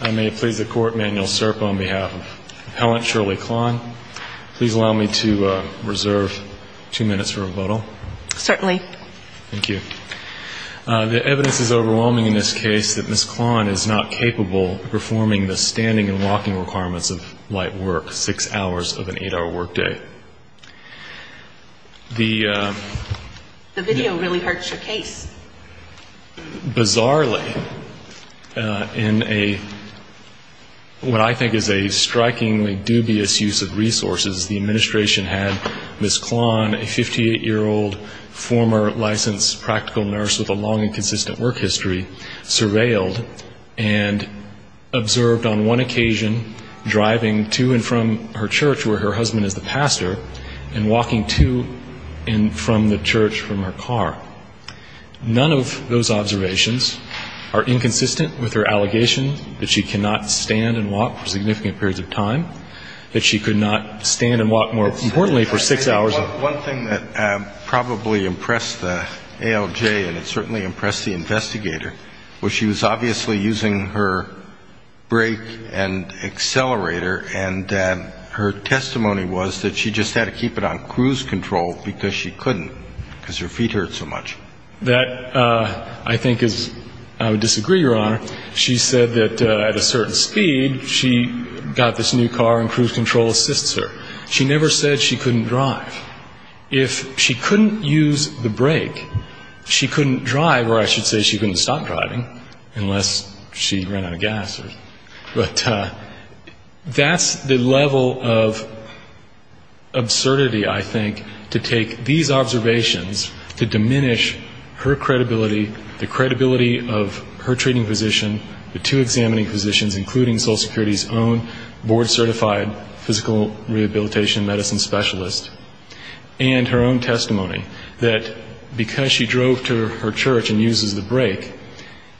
I may please the court, Manuel Serpa on behalf of appellant Shirley Klahn. Please allow me to reserve two minutes for rebuttal. Certainly. Thank you. The evidence is overwhelming in this case that Ms. Klahn is not capable of performing the standing and walking requirements of light work, six hours of an eight-hour workday. The video really hurts your case. Bizarrely. In fact, in what I think is a strikingly dubious use of resources, the administration had Ms. Klahn, a 58-year-old former licensed practical nurse with a long and consistent work history, surveilled and observed on one occasion driving to and from her church where her husband is the pastor and walking to and from the church from her car. None of those are true. There is an allegation that she cannot stand and walk for significant periods of time, that she could not stand and walk, more importantly, for six hours. One thing that probably impressed the ALJ and it certainly impressed the investigator was she was obviously using her brake and accelerator, and her testimony was that she just had to keep it on cruise control because she couldn't because her feet hurt so much. She said that at a certain speed she got this new car and cruise control assists her. She never said she couldn't drive. If she couldn't use the brake, she couldn't drive, or I should say she couldn't stop driving unless she ran out of gas. But that's the level of absurdity, I think, to take these observations to diminish her credibility, the credibility of her own board certified physical rehabilitation medicine specialist and her own testimony, that because she drove to her church and uses the brake,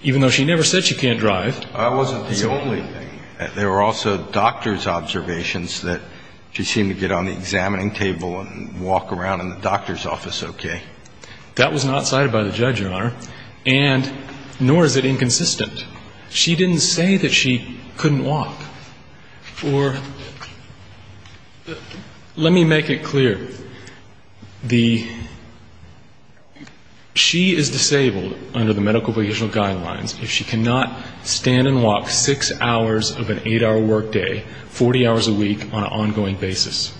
even though she never said she can't drive. I wasn't the only thing. There were also doctor's observations that she seemed to get on the examining table and walk around in the doctor's office okay. That was not cited by the judge, Your Honor, and nor is it inconsistent. She didn't say that she couldn't walk. Or let me make it clear. The she is disabled under the medical vocational guidelines if she cannot stand and walk six hours of an eight-hour work day, 40 hours a week on an ongoing basis.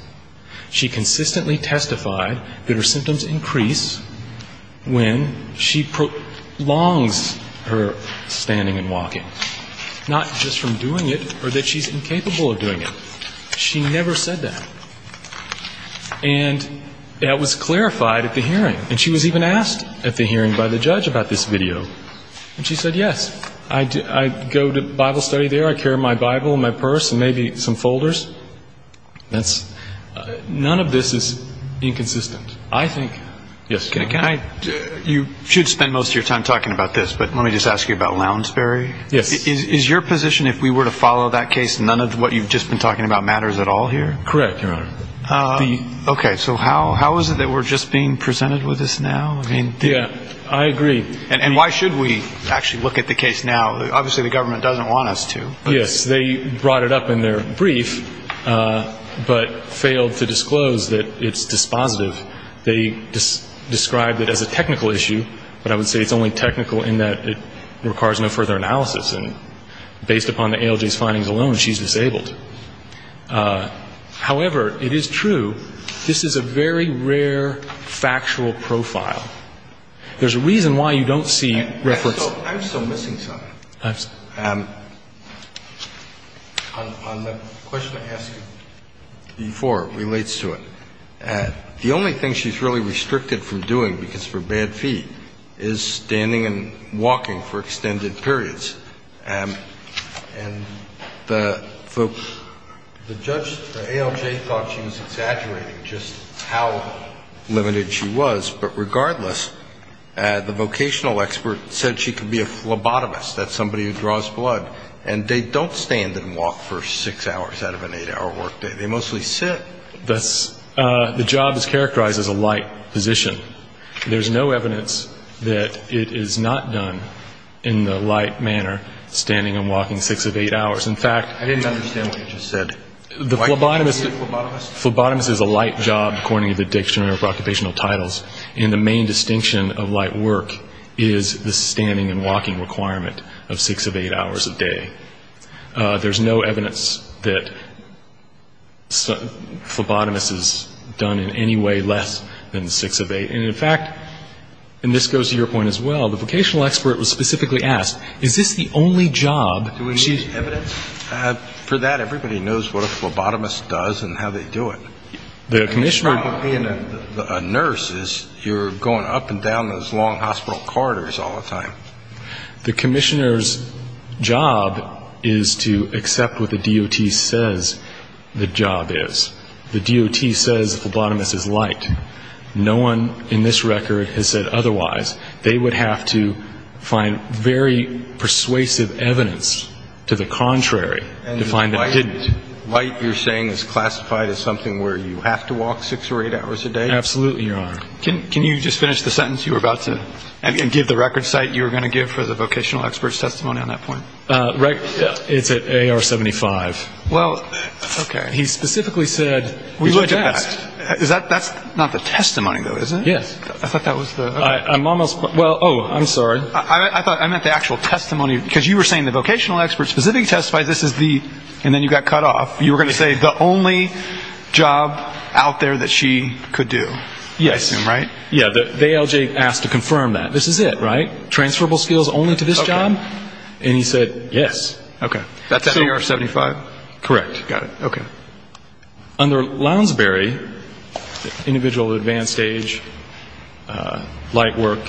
She consistently testified that her symptoms increased and decreased when she prolongs her standing and walking, not just from doing it or that she's incapable of doing it. She never said that. And that was clarified at the hearing. And she was even asked at the hearing by the judge about this video. And she said, yes, I go to Bible study there. I carry my Bible in my purse and maybe some folders. None of this is inconsistent. I think, yes, can I, you should spend most of your time talking about this, but let me just ask you about Lounsbury. Is your position if we were to follow that case, none of what you've just been talking about matters at all here? Correct, Your Honor. Okay. So how is it that we're just being presented with this now? Yeah, I agree. And why should we actually look at the case now? Obviously the government doesn't want us to. Yes, they brought it up in their brief, but failed to disclose that it's dispositive. They described it as a technical issue, but I would say it's only technical in that it requires no further analysis. And based upon the ALJ's findings alone, she's disabled. However, it is true, this is a very rare factual profile. There's a reason why you don't see reference to it. I'm still missing something. On the question I asked you before relates to it. The only thing she's really restricted from doing, because for bad feet, is standing and walking for extended periods. And the folks, the judge, the ALJ thought she was exaggerating just how limited she was, but regardless, the vocational expert said she could be a phlebotomist that's somebody who draws blood. And they don't stand and walk for six hours out of an eight-hour work day. They mostly sit. The job is characterized as a light position. There's no evidence that it is not done in the light manner, standing and walking six of eight hours. In fact, the phlebotomist is a light job according to the dictionary of occupational titles, and the main distinction of light work is the standing and walking requirement of six of eight hours a day. There's no evidence that a phlebotomist is done in any way less than six of eight. And in fact, and this goes to your point as well, the vocational expert was specifically asked, is this the only job she's used to? For that, everybody knows what a phlebotomist does and how they do it. The commissioner --"The problem with being a nurse is you're going up and down those long hospital corridors all the time." The commissioner's job is to accept what the DOT says the job is. The DOT says a phlebotomist is light. No one in this record has said otherwise. They would have to find very persuasive evidence to the contrary to find that it didn't. And light, you're saying, is classified as something where you have to walk six or eight hours a day? Absolutely, Your Honor. Can you just finish the sentence you were about to, and give the record site you were going to give for the vocational expert's testimony on that point? Right. It's at AR-75. Well, okay. He specifically said, we would test. Is that, that's not the testimony, though, is it? Yes. I thought that was the, okay. I'm almost, well, oh, I'm sorry. I thought, I meant the actual testimony, because you were saying the vocational expert specifically testified this is the, and then you got cut off. You were going to say the only job out there that she could do. Yes. I assume, right? Yeah. The ALJ asked to confirm that. This is it, right? Transferable skills only to this job? Okay. And he said, yes. Okay. That's at AR-75? Correct. Got it. Okay. Under Lounsbury, individual advanced age, light work,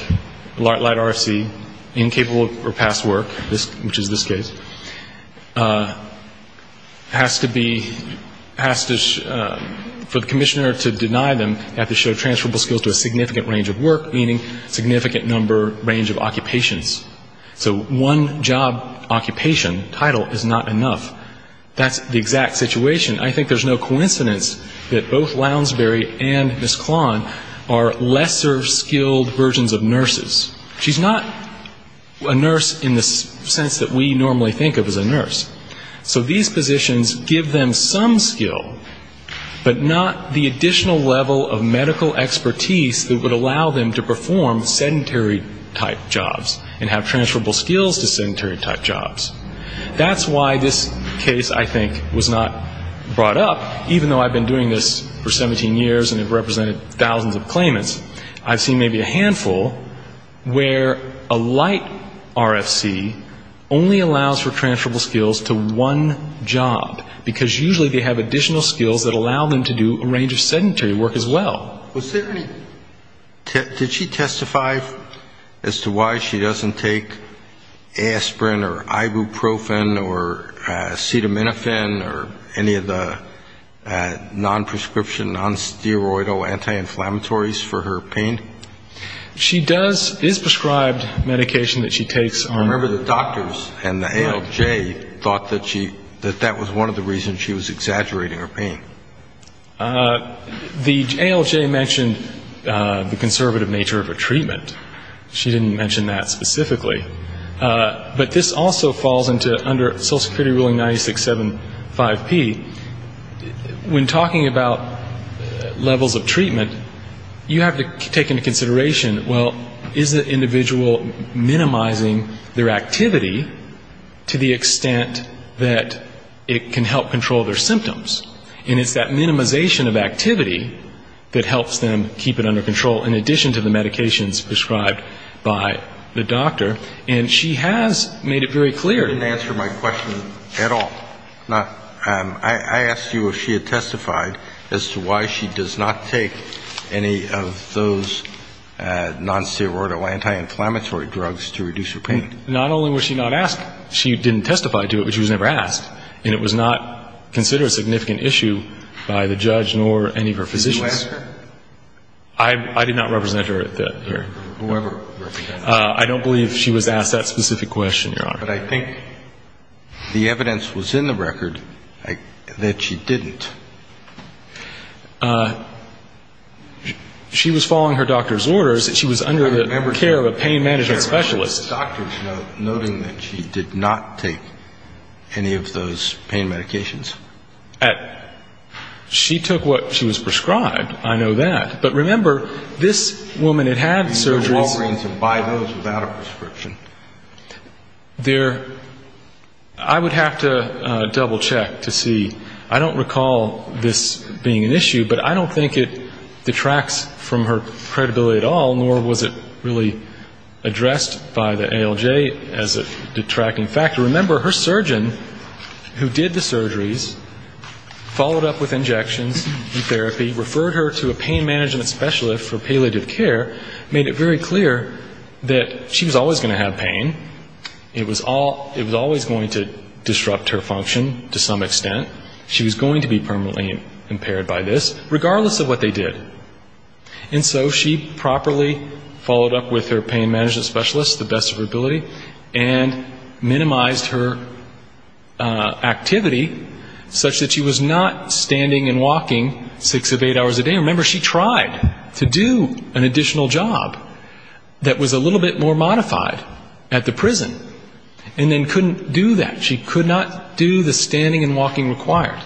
light RFC, incapable or past work, which is this case, has to be, has to, for the commissioner to deny them, they have to show transferable skills to a significant range of work, meaning significant number, range of occupations. So one job occupation title is not enough. That's the exact situation. I think there's no coincidence that both Lounsbury and Ms. Klon are lesser skilled versions of nurses. She's not a nurse in the sense that we normally think of as a nurse. So these positions give them some skill, but not the additional level of medical expertise that would allow them to perform sedentary type jobs and have transferable skills to sedentary type jobs. That's why this case, I think, was not brought up. Even though I've been doing this for 17 years and have represented thousands of claimants, I've seen maybe a handful where a light RFC only allows for transferable skills to one job, because usually they have additional skills that allow them to do a range of sedentary work as well. Was there any, did she testify as to why she doesn't take aspirin or ibuprofen or acetaminophen or any of the non-prescription, non-steroidal anti-inflammatories for her pain? She does, is prescribed medication that she takes. I remember the doctors and the ALJ thought that she, that that was one of the reasons she was exaggerating her pain. The ALJ mentioned the conservative nature of her treatment. She didn't mention that specifically. But this also falls under Social Security ruling 96.7.5.P. When talking about levels of treatment, you have to take into consideration, well, is the individual minimizing their activity to the extent that it can help control their symptoms? And it's that minimization of activity that helps them keep it under control, in addition to the medications prescribed by the doctor. And she has made it very clear. She didn't answer my question at all. I asked you if she had testified as to why she does not take any of those non-steroidal anti-inflammatory drugs to reduce her pain. Not only was she not asked, she didn't testify to it, but she was never asked. And it was not considered a significant issue by the judge nor any of her physicians. Did you ask her? I did not represent her here. Whoever represented her. I don't believe she was asked that specific question, Your Honor. But I think the evidence was in the record that she didn't. She was following her doctor's orders. She was under the care of a pain management specialist. Was there a doctor's note noting that she did not take any of those pain medications? She took what she was prescribed. I know that. But remember, this woman had had surgery. You can go to Walgreens and buy those without a prescription. I would have to double-check to see. I don't recall this being an issue, but I don't think it detracts from her credibility at all, nor was it really addressed by the ALJ as a detracting factor. Remember, her surgeon, who did the surgeries, followed up with injections and therapy, referred her to a pain management specialist for palliative care, made it very clear that she was always going to have pain. It was always going to disrupt her function to some extent. She was going to be permanently impaired by this, regardless of what they did. And so she properly followed up with her pain management specialist to the best of her ability and minimized her activity such that she was not standing and walking six of eight hours a day. Remember, she tried to do an additional job that was a little bit more modified at the prison and then couldn't do that. She could not do the standing and walking required.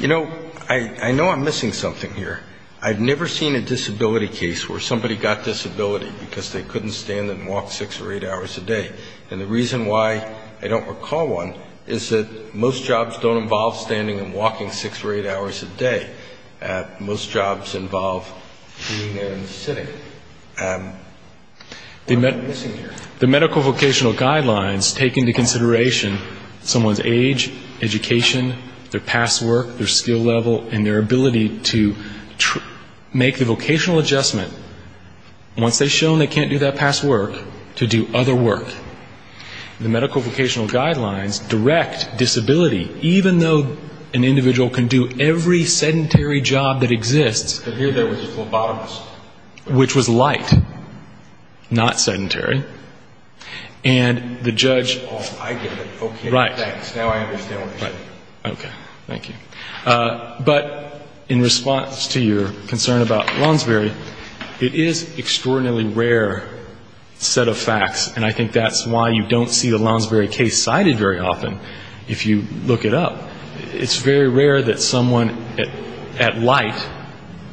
You know, I know I'm missing something here. I've never seen a disability case where somebody got disability because they couldn't stand and walk six or eight hours a day. And the reason why I don't recall one is that most jobs don't involve standing and walking six or eight hours a day. Most jobs involve being there and sitting. I'm missing here. The medical vocational guidelines take into consideration someone's age, education, their past work, their skill level, and their ability to make the vocational adjustment. Once they've shown they can't do that past work, to do other work. The medical vocational guidelines direct disability, even though an individual can do every sedentary job that exists. Here there was a phlebotomist. Which was light, not sedentary. And the judge... Oh, I get it. Okay. Right. Okay. Thank you. But in response to your concern about Lonsbury, it is an extraordinarily rare set of facts. And I think that's why you don't see the Lonsbury case cited very often, if you look it up. It's very rare that someone at light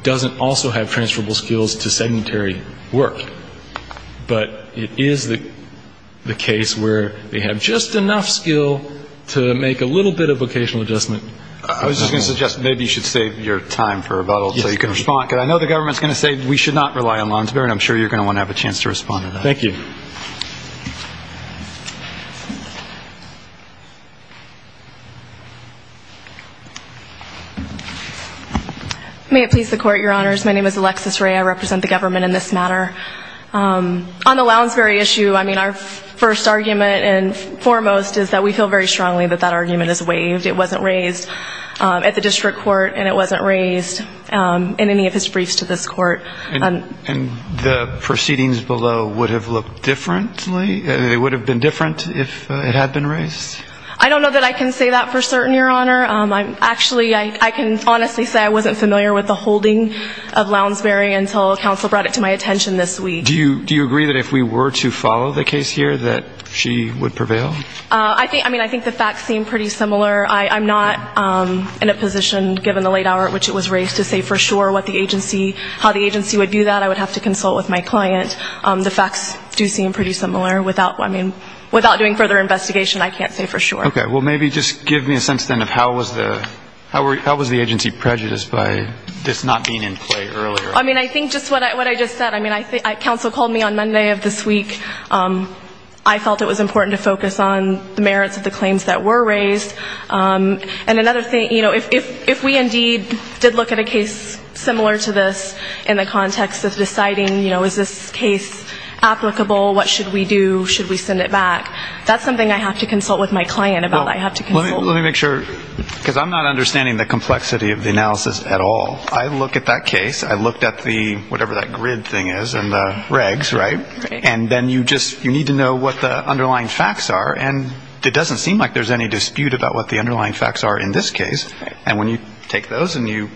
doesn't also have transferable skills to sedentary work. But it is the case where they have just enough skill to make a little bit of vocational adjustment. I was just going to suggest maybe you should save your time for rebuttal so you can respond. Because I know the government is going to say we should not rely on Lonsbury. And I'm sure you're going to want to have a chance to respond to that. Thank you. Thank you. May it please the court, your honors. My name is Alexis Ray. I represent the government in this matter. On the Lonsbury issue, I mean, our first argument and foremost is that we feel very strongly that that argument is waived. It wasn't raised at the district court. And it wasn't raised in any of his briefs to this court. And the proceedings below would have looked differently? It would have been different if it had been raised? I don't know that I can say that for certain, your honor. Actually, I can honestly say I wasn't familiar with the holding of Lonsbury until counsel brought it to my attention this week. Do you agree that if we were to follow the case here that she would prevail? I mean, I think the facts seem pretty similar. I'm not in a position, given the late hour at which it was raised, to say for sure how the agency would do that. I would have to consult with my client. The facts do seem pretty similar. Without doing further investigation, I can't say for sure. Okay. Well, maybe just give me a sense then of how was the agency prejudiced by this not being in play earlier? I mean, I think just what I just said. I mean, counsel called me on Monday of this week. I felt it was important to focus on the merits of the claims that were raised. And another thing, you know, if we indeed did look at a case similar to this in the context of deciding, you know, is this case applicable? What should we do? Should we send it back? That's something I have to consult with my client about. I have to consult. Let me make sure, because I'm not understanding the complexity of the analysis at all. I look at that case. I looked at the whatever that grid thing is and the regs, right? And then you just need to know what the underlying facts are. And it doesn't seem like there's any dispute about what the underlying facts are in this case. And when you take those and you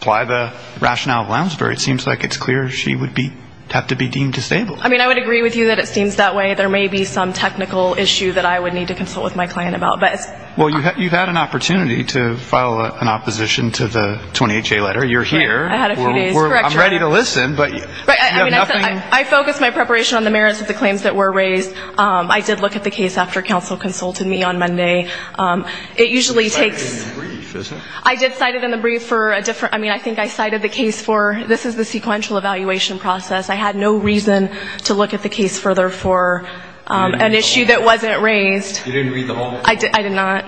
apply the rationale of Lounsbury, it seems like it's clear she would have to be deemed disabled. I mean, I would agree with you that it seems that way. There may be some technical issue that I would need to consult with my client about. Well, you've had an opportunity to file an opposition to the 20HA letter. You're here. I had a few days. I'm ready to listen, but you have nothing. I focused my preparation on the merits of the claims that were raised. I did look at the case after counsel consulted me on Monday. It usually takes – You cited it in the brief, isn't it? I did cite it in the brief for a different – I mean, I think I cited the case for this is the sequential evaluation process. I had no reason to look at the case further for an issue that wasn't raised. You didn't read the whole – I did not,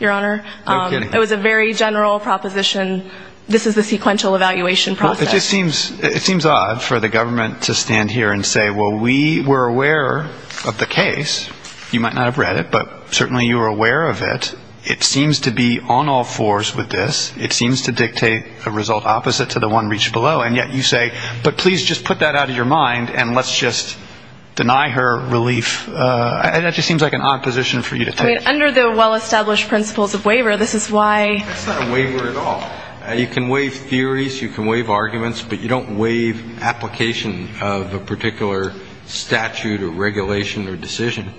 Your Honor. No kidding. It was a very general proposition. This is the sequential evaluation process. It just seems odd for the government to stand here and say, well, we were aware of the case. You might not have read it, but certainly you were aware of it. It seems to be on all fours with this. It seems to dictate a result opposite to the one reached below. And yet you say, but please just put that out of your mind and let's just deny her relief. That just seems like an odd position for you to take. I mean, under the well-established principles of waiver, this is why – That's not a waiver at all. You can waive theories. You can waive arguments. But you don't waive application of a particular statute or regulation or decision.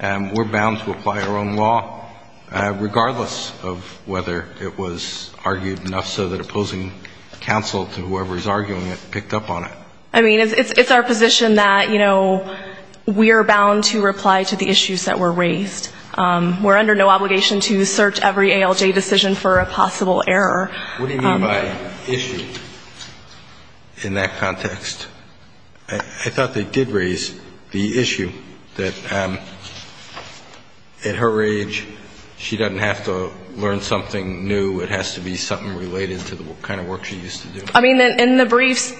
We're bound to apply our own law, regardless of whether it was argued enough so that opposing counsel to whoever is arguing it picked up on it. I mean, it's our position that, you know, we are bound to reply to the issues that were raised. We're under no obligation to search every ALJ decision for a possible error. What do you mean by issue in that context? I thought they did raise the issue that at her age, she doesn't have to learn something new. It has to be something related to the kind of work she used to do. I mean, in the briefs,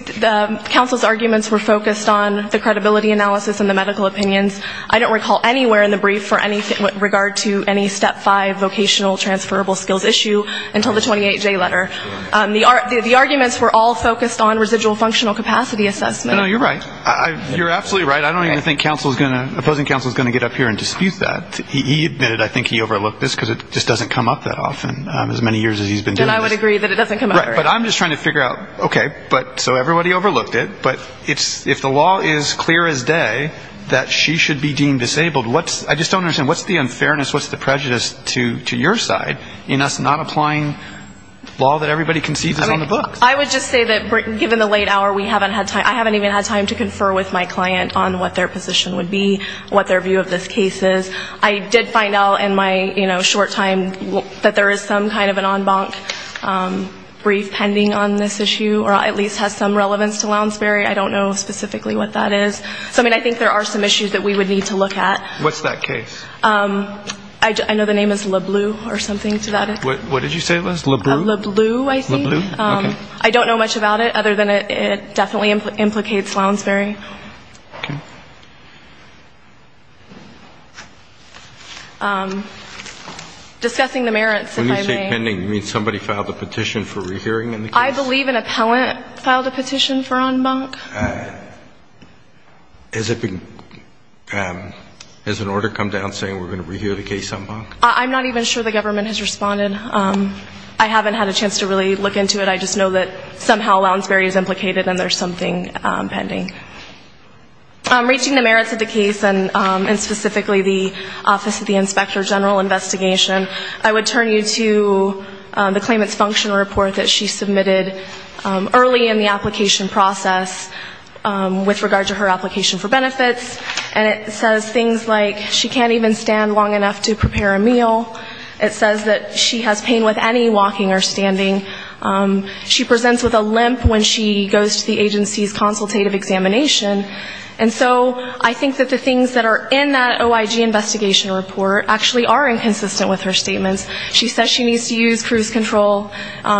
counsel's arguments were focused on the credibility analysis and the medical opinions. I don't recall anywhere in the brief for anything with regard to any Step 5 vocational transferable skills issue until the 28J letter. The arguments were all focused on residual functional capacity assessment. No, you're right. You're absolutely right. I don't even think counsel is going to – opposing counsel is going to get up here and dispute that. He admitted, I think, he overlooked this because it just doesn't come up that often, as many years as he's been doing this. And I would agree that it doesn't come up. Right. But I'm just trying to figure out, okay, so everybody overlooked it. But if the law is clear as day that she should be deemed disabled, I just don't understand. What's the unfairness, what's the prejudice to your side in us not applying law that everybody conceives is on the books? I would just say that given the late hour, I haven't even had time to confer with my client on what their position would be, what their view of this case is. I did find out in my short time that there is some kind of an en banc brief pending on this issue or at least has some relevance to Lounsbury. I don't know specifically what that is. So, I mean, I think there are some issues that we would need to look at. What's that case? I know the name is Lebleu or something to that end. What did you say, Liz? Lebleu? Lebleu, I think. Lebleu, okay. I don't know much about it other than it definitely implicates Lounsbury. Okay. Discussing the merits, if I may. When you say pending, you mean somebody filed a petition for rehearing in the case? I believe an appellant filed a petition for en banc. Has an order come down saying we're going to rehear the case en banc? I'm not even sure the government has responded. I haven't had a chance to really look into it. I just know that somehow Lounsbury is implicated and there's something pending. Reaching the merits of the case and specifically the Office of the Inspector General investigation, I would turn you to the claimant's functional report that she submitted early in the application process with regard to her application for benefits. And it says things like she can't even stand long enough to prepare a meal. It says that she has pain with any walking or standing. She presents with a limp when she goes to the agency's consultative examination. And so I think that the things that are in that OIG investigation report actually are inconsistent with her statements. She says she needs to use cruise control.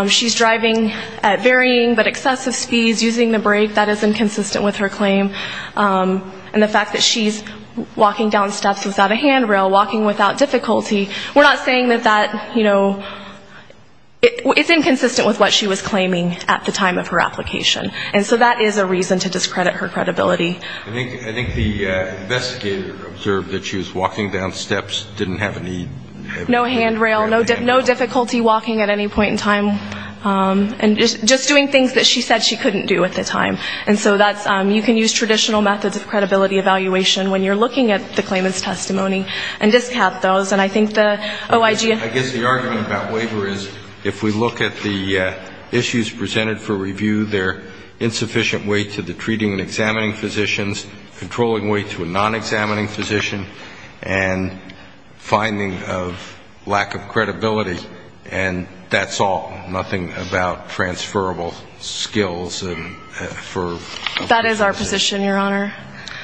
She's driving at varying but excessive speeds using the brake. That is inconsistent with her claim. And the fact that she's walking down steps without a handrail, walking without difficulty, we're not saying that that, you know, it's inconsistent with what she was claiming at the time of her application. And so that is a reason to discredit her credibility. I think the investigator observed that she was walking down steps, didn't have any... No handrail, no difficulty walking at any point in time. And just doing things that she said she couldn't do at the time. And so that's, you can use traditional methods of credibility evaluation when you're looking at the claimant's testimony and discard those. And I think the OIG... I guess the argument about waiver is if we look at the issues presented for review, they're insufficient weight to the treating and examining physicians, controlling weight to a non-examining physician, and finding of lack of credibility. And that's all. Nothing about transferable skills for... That is our position, Your Honor.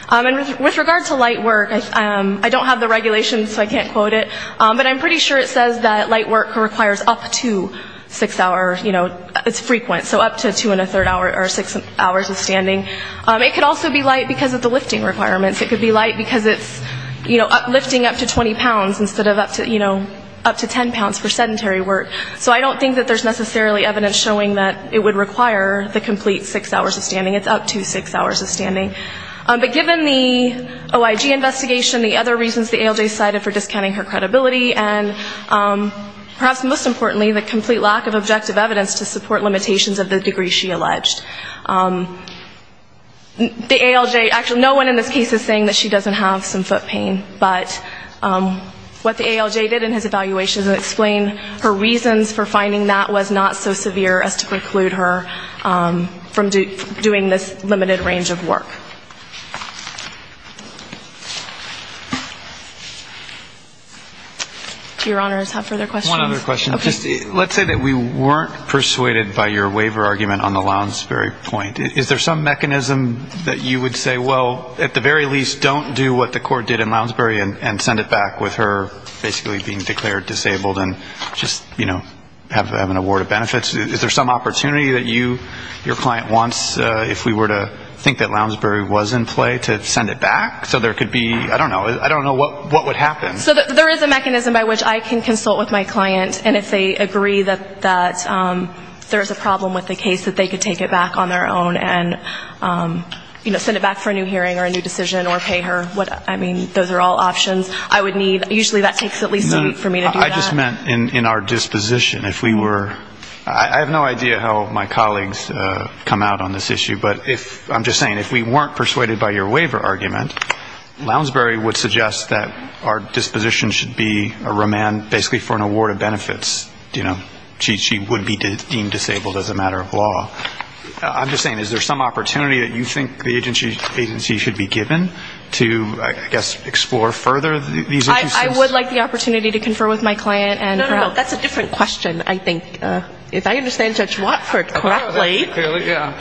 And with regard to light work, I don't have the regulations so I can't quote it, but I'm pretty sure it says that light work requires up to six hours, you know, it's frequent, so up to two and a third hour or six hours of standing. It could also be light because of the lifting requirements. It could be light because it's, you know, lifting up to 20 pounds instead of up to, you know, up to 10 pounds for sedentary work. So I don't think that there's necessarily evidence showing that it would require the complete six hours of standing. It's up to six hours of standing. But given the OIG investigation, the other reasons the ALJ cited for discounting her credibility, and perhaps most importantly, the complete lack of objective evidence to support limitations of the degree she alleged. The ALJ, actually no one in this case is saying that she doesn't have some foot pain, but what the ALJ did in his evaluation is explain her reasons for finding that was not so severe as to preclude her from doing this limited range of work. Do Your Honors have further questions? Just one other question. Let's say that we weren't persuaded by your waiver argument on the Lounsbury point. Is there some mechanism that you would say, well, at the very least don't do what the court did in Lounsbury and send it back with her basically being declared disabled and just, you know, have an award of benefits? Is there some opportunity that you, your client wants if we were to think that Lounsbury was in play to send it back? So there could be, I don't know, I don't know what would happen. So there is a mechanism by which I can consult with my client and if they agree that there is a problem with the case that they could take it back on their own and, you know, send it back for a new hearing or a new decision or pay her. I mean, those are all options I would need. Usually that takes at least a week for me to do that. I just meant in our disposition. If we were, I have no idea how my colleagues come out on this issue, but I'm just saying if we weren't persuaded by your waiver argument, Lounsbury would suggest that our disposition should be a remand basically for an award of benefits. You know, she would be deemed disabled as a matter of law. I'm just saying, is there some opportunity that you think the agency should be given to, I guess, explore further these issues? I would like the opportunity to confer with my client and her health. No, no, no, that's a different question, I think. If I understand Judge Watford correctly,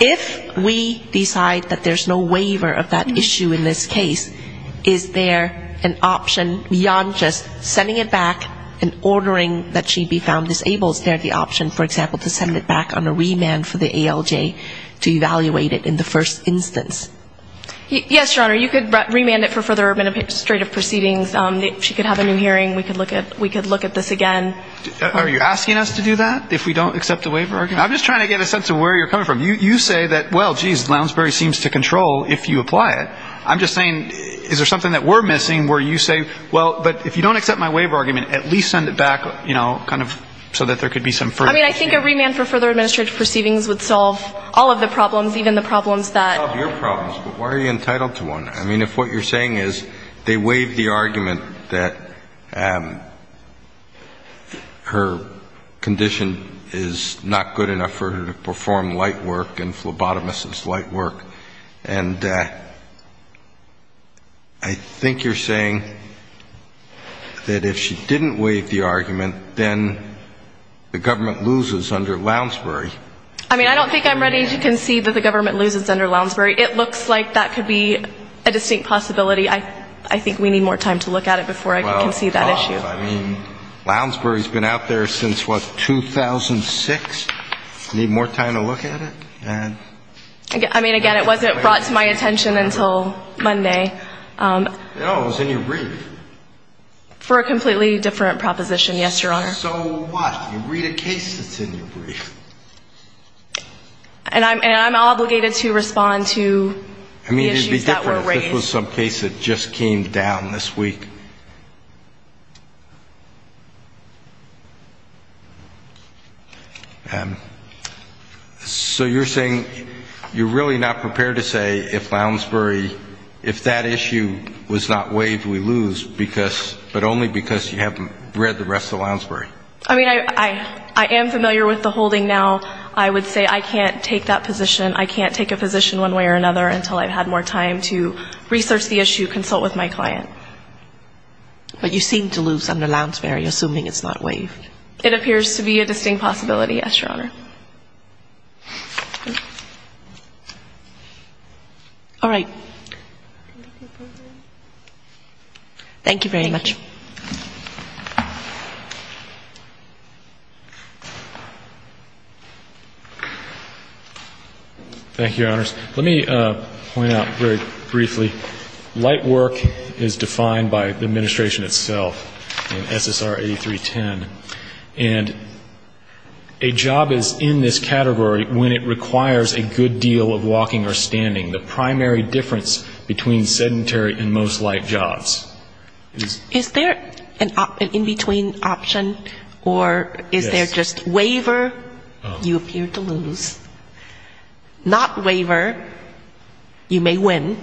if we decide that there's no waiver of that issue in this case, is there an option beyond just sending it back and ordering that she be found disabled? Is there the option, for example, to send it back on a remand for the ALJ to evaluate it in the first instance? Yes, Your Honor. You could remand it for further administrative proceedings. She could have a new hearing. We could look at this again. Are you asking us to do that if we don't accept the waiver argument? I'm just trying to get a sense of where you're coming from. You say that, well, geez, Lounsbury seems to control if you apply it. I'm just saying, is there something that we're missing where you say, well, but if you don't accept my waiver argument, at least send it back, you know, kind of so that there could be some further... I mean, I think a remand for further administrative proceedings would solve all of the problems, even the problems that... It would solve your problems, but why are you entitled to one? I mean, if what you're saying is they waive the argument that her condition is not good enough for her to perform light work and phlebotomist's light work, and I think you're saying that if she didn't waive the argument, then the government loses under Lounsbury. I mean, I don't think I'm ready to concede that the government loses under Lounsbury. It looks like that could be a distinct possibility. I think we need more time to look at it before I can concede that issue. Well, of course. I mean, Lounsbury's been out there since, what, 2006? I mean, again, it would be a mistake. I mean, it wasn't brought to my attention until Monday. No, it was in your brief. For a completely different proposition, yes, Your Honor. So what? You read a case that's in your brief. And I'm obligated to respond to the issues that were raised. I mean, it would be different if this was some case that just came down this week. So you're saying you're really not prepared to say if Lounsbury, if that issue was not waived, we lose, but only because you haven't read the rest of Lounsbury. I mean, I am familiar with the holding now. I would say I can't take that position. I can't take a position one way or another until I've had more time to research the issue, I don't know. I don't know. I don't know. But you seem to lose under Lounsbury, assuming it's not waived. It appears to be a distinct possibility, yes, Your Honor. All right. Thank you very much. Thank you, Your Honors. Let me point out very briefly, light work is defined by the administration itself in SSR 8310. And a job is in this category when it requires a good deal of walking or standing. The primary difference between sedentary and most light jobs. Is there an in-between option, or is there just waiver, you appear to lose, not waiver, you may win,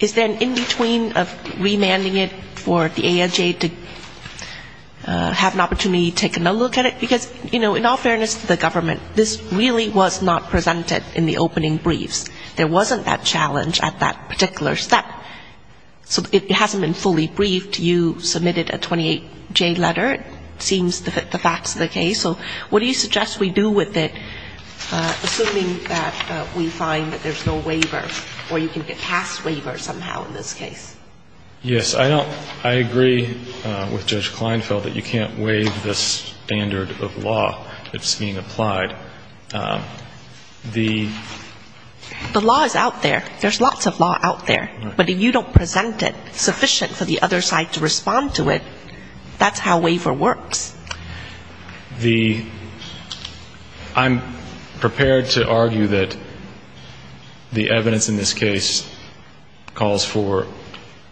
is there an in-between of remanding it for the AHA to have an opportunity to take another look at it? Because, you know, in all fairness to the government, this really was not presented in the opening briefs. There wasn't that challenge at that particular step. So it hasn't been fully briefed. You submitted a 28-J letter. It seems to fit the facts of the case. So what do you suggest we do with it, assuming that we find that there's no waiver or you can get passed it? You can't pass waiver somehow in this case. Yes. I agree with Judge Kleinfeld that you can't waive the standard of law that's being applied. The law is out there. There's lots of law out there. But if you don't present it sufficient for the other side to respond to it, that's how waiver works. I'm prepared to argue that the evidence in this case calls for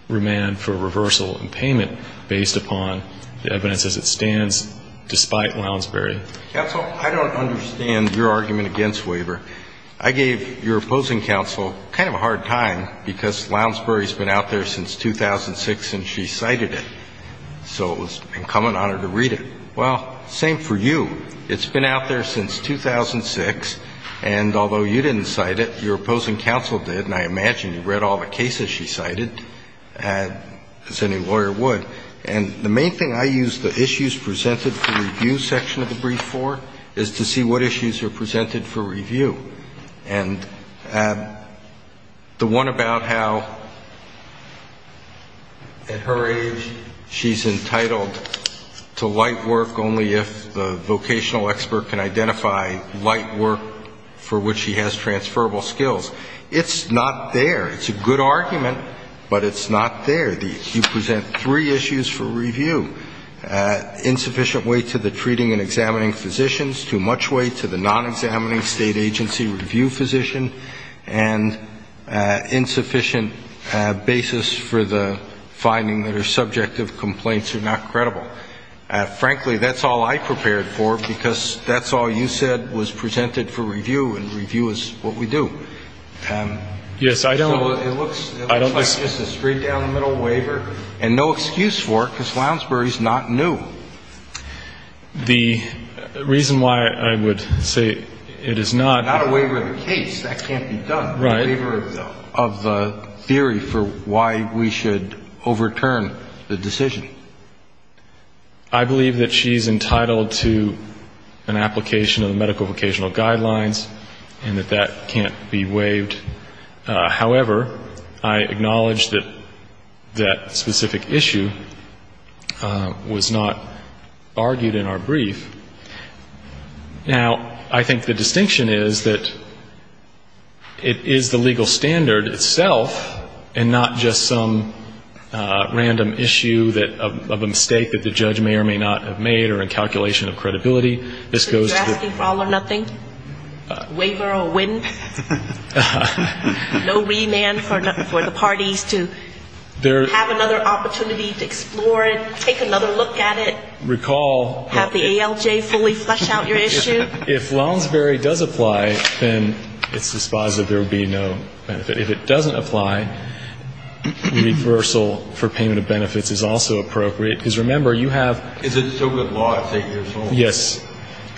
remand for reversal and payment based upon the evidence as it stands despite Lounsbury. Counsel, I don't understand your argument against waiver. I gave your opposing counsel kind of a hard time because Lounsbury's been out there since 2006 and she cited it. So it was incumbent on her to read it. Well, same for you. It's been out there since 2006 and although you didn't cite it, your opposing counsel did and I imagine you read all the cases she cited as any lawyer would. And the main thing I use the issues presented for review section of the brief for is to see what issues are presented for review. And the one about how at her age she's entitled to light work only if the vocational expert can identify light work for which she has transferable skills. It's not there. It's a good argument but it's not there. You present three issues for review. Insufficient weight to the treating and examining physicians, too much weight to the non-examining state agency review physician and insufficient basis for the finding that her subjective complaints are not credible. Frankly, that's all I prepared for because that's all you said was presented for review and review is what we do. So it looks like just a straight down the middle waiver and no excuse for it because Lounsbury's not new. The reason why I would say it is not... Not a waiver of the case. That can't be done. A waiver of the theory for why we should overturn the decision. I believe that she's entitled to an application of the medical vocational guidelines and that that can't be waived. However, I acknowledge that that specific issue was not argued in our brief. Now, I think the distinction is that it is the legal standard itself and not just some random issue of a mistake that the judge may or may not have made or a calculation of credibility. This goes to... You're asking for all or nothing? Waiver or win? No remand for the parties to have another opportunity to explore it, take another look at it, have the ALJ fully flush out your issue? If Lounsbury does apply, then it's dispositive there would be no benefit. If it doesn't apply, reversal for payment of benefits is also appropriate because remember you have... Is it still good law at 8 years old? Yes.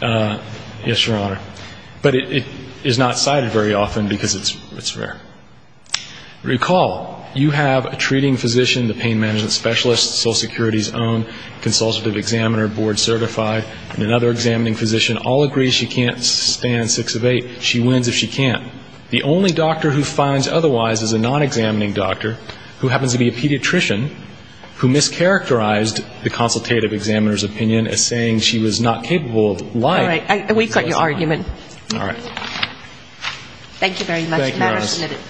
Yes, Your Honor. But it is not cited very often because it's rare. Recall, you have a treating physician, the pain management specialist, Social Security's own consultative examiner, board certified, and another examining physician all agree she can't stand 6 of 8. She wins if she can't. The only doctor who finds otherwise is a non-examining doctor who happens to be a pediatrician who mischaracterized the consultative examiner's opinion as saying she was not capable of lying. We've got your argument. All right. Thank you very much.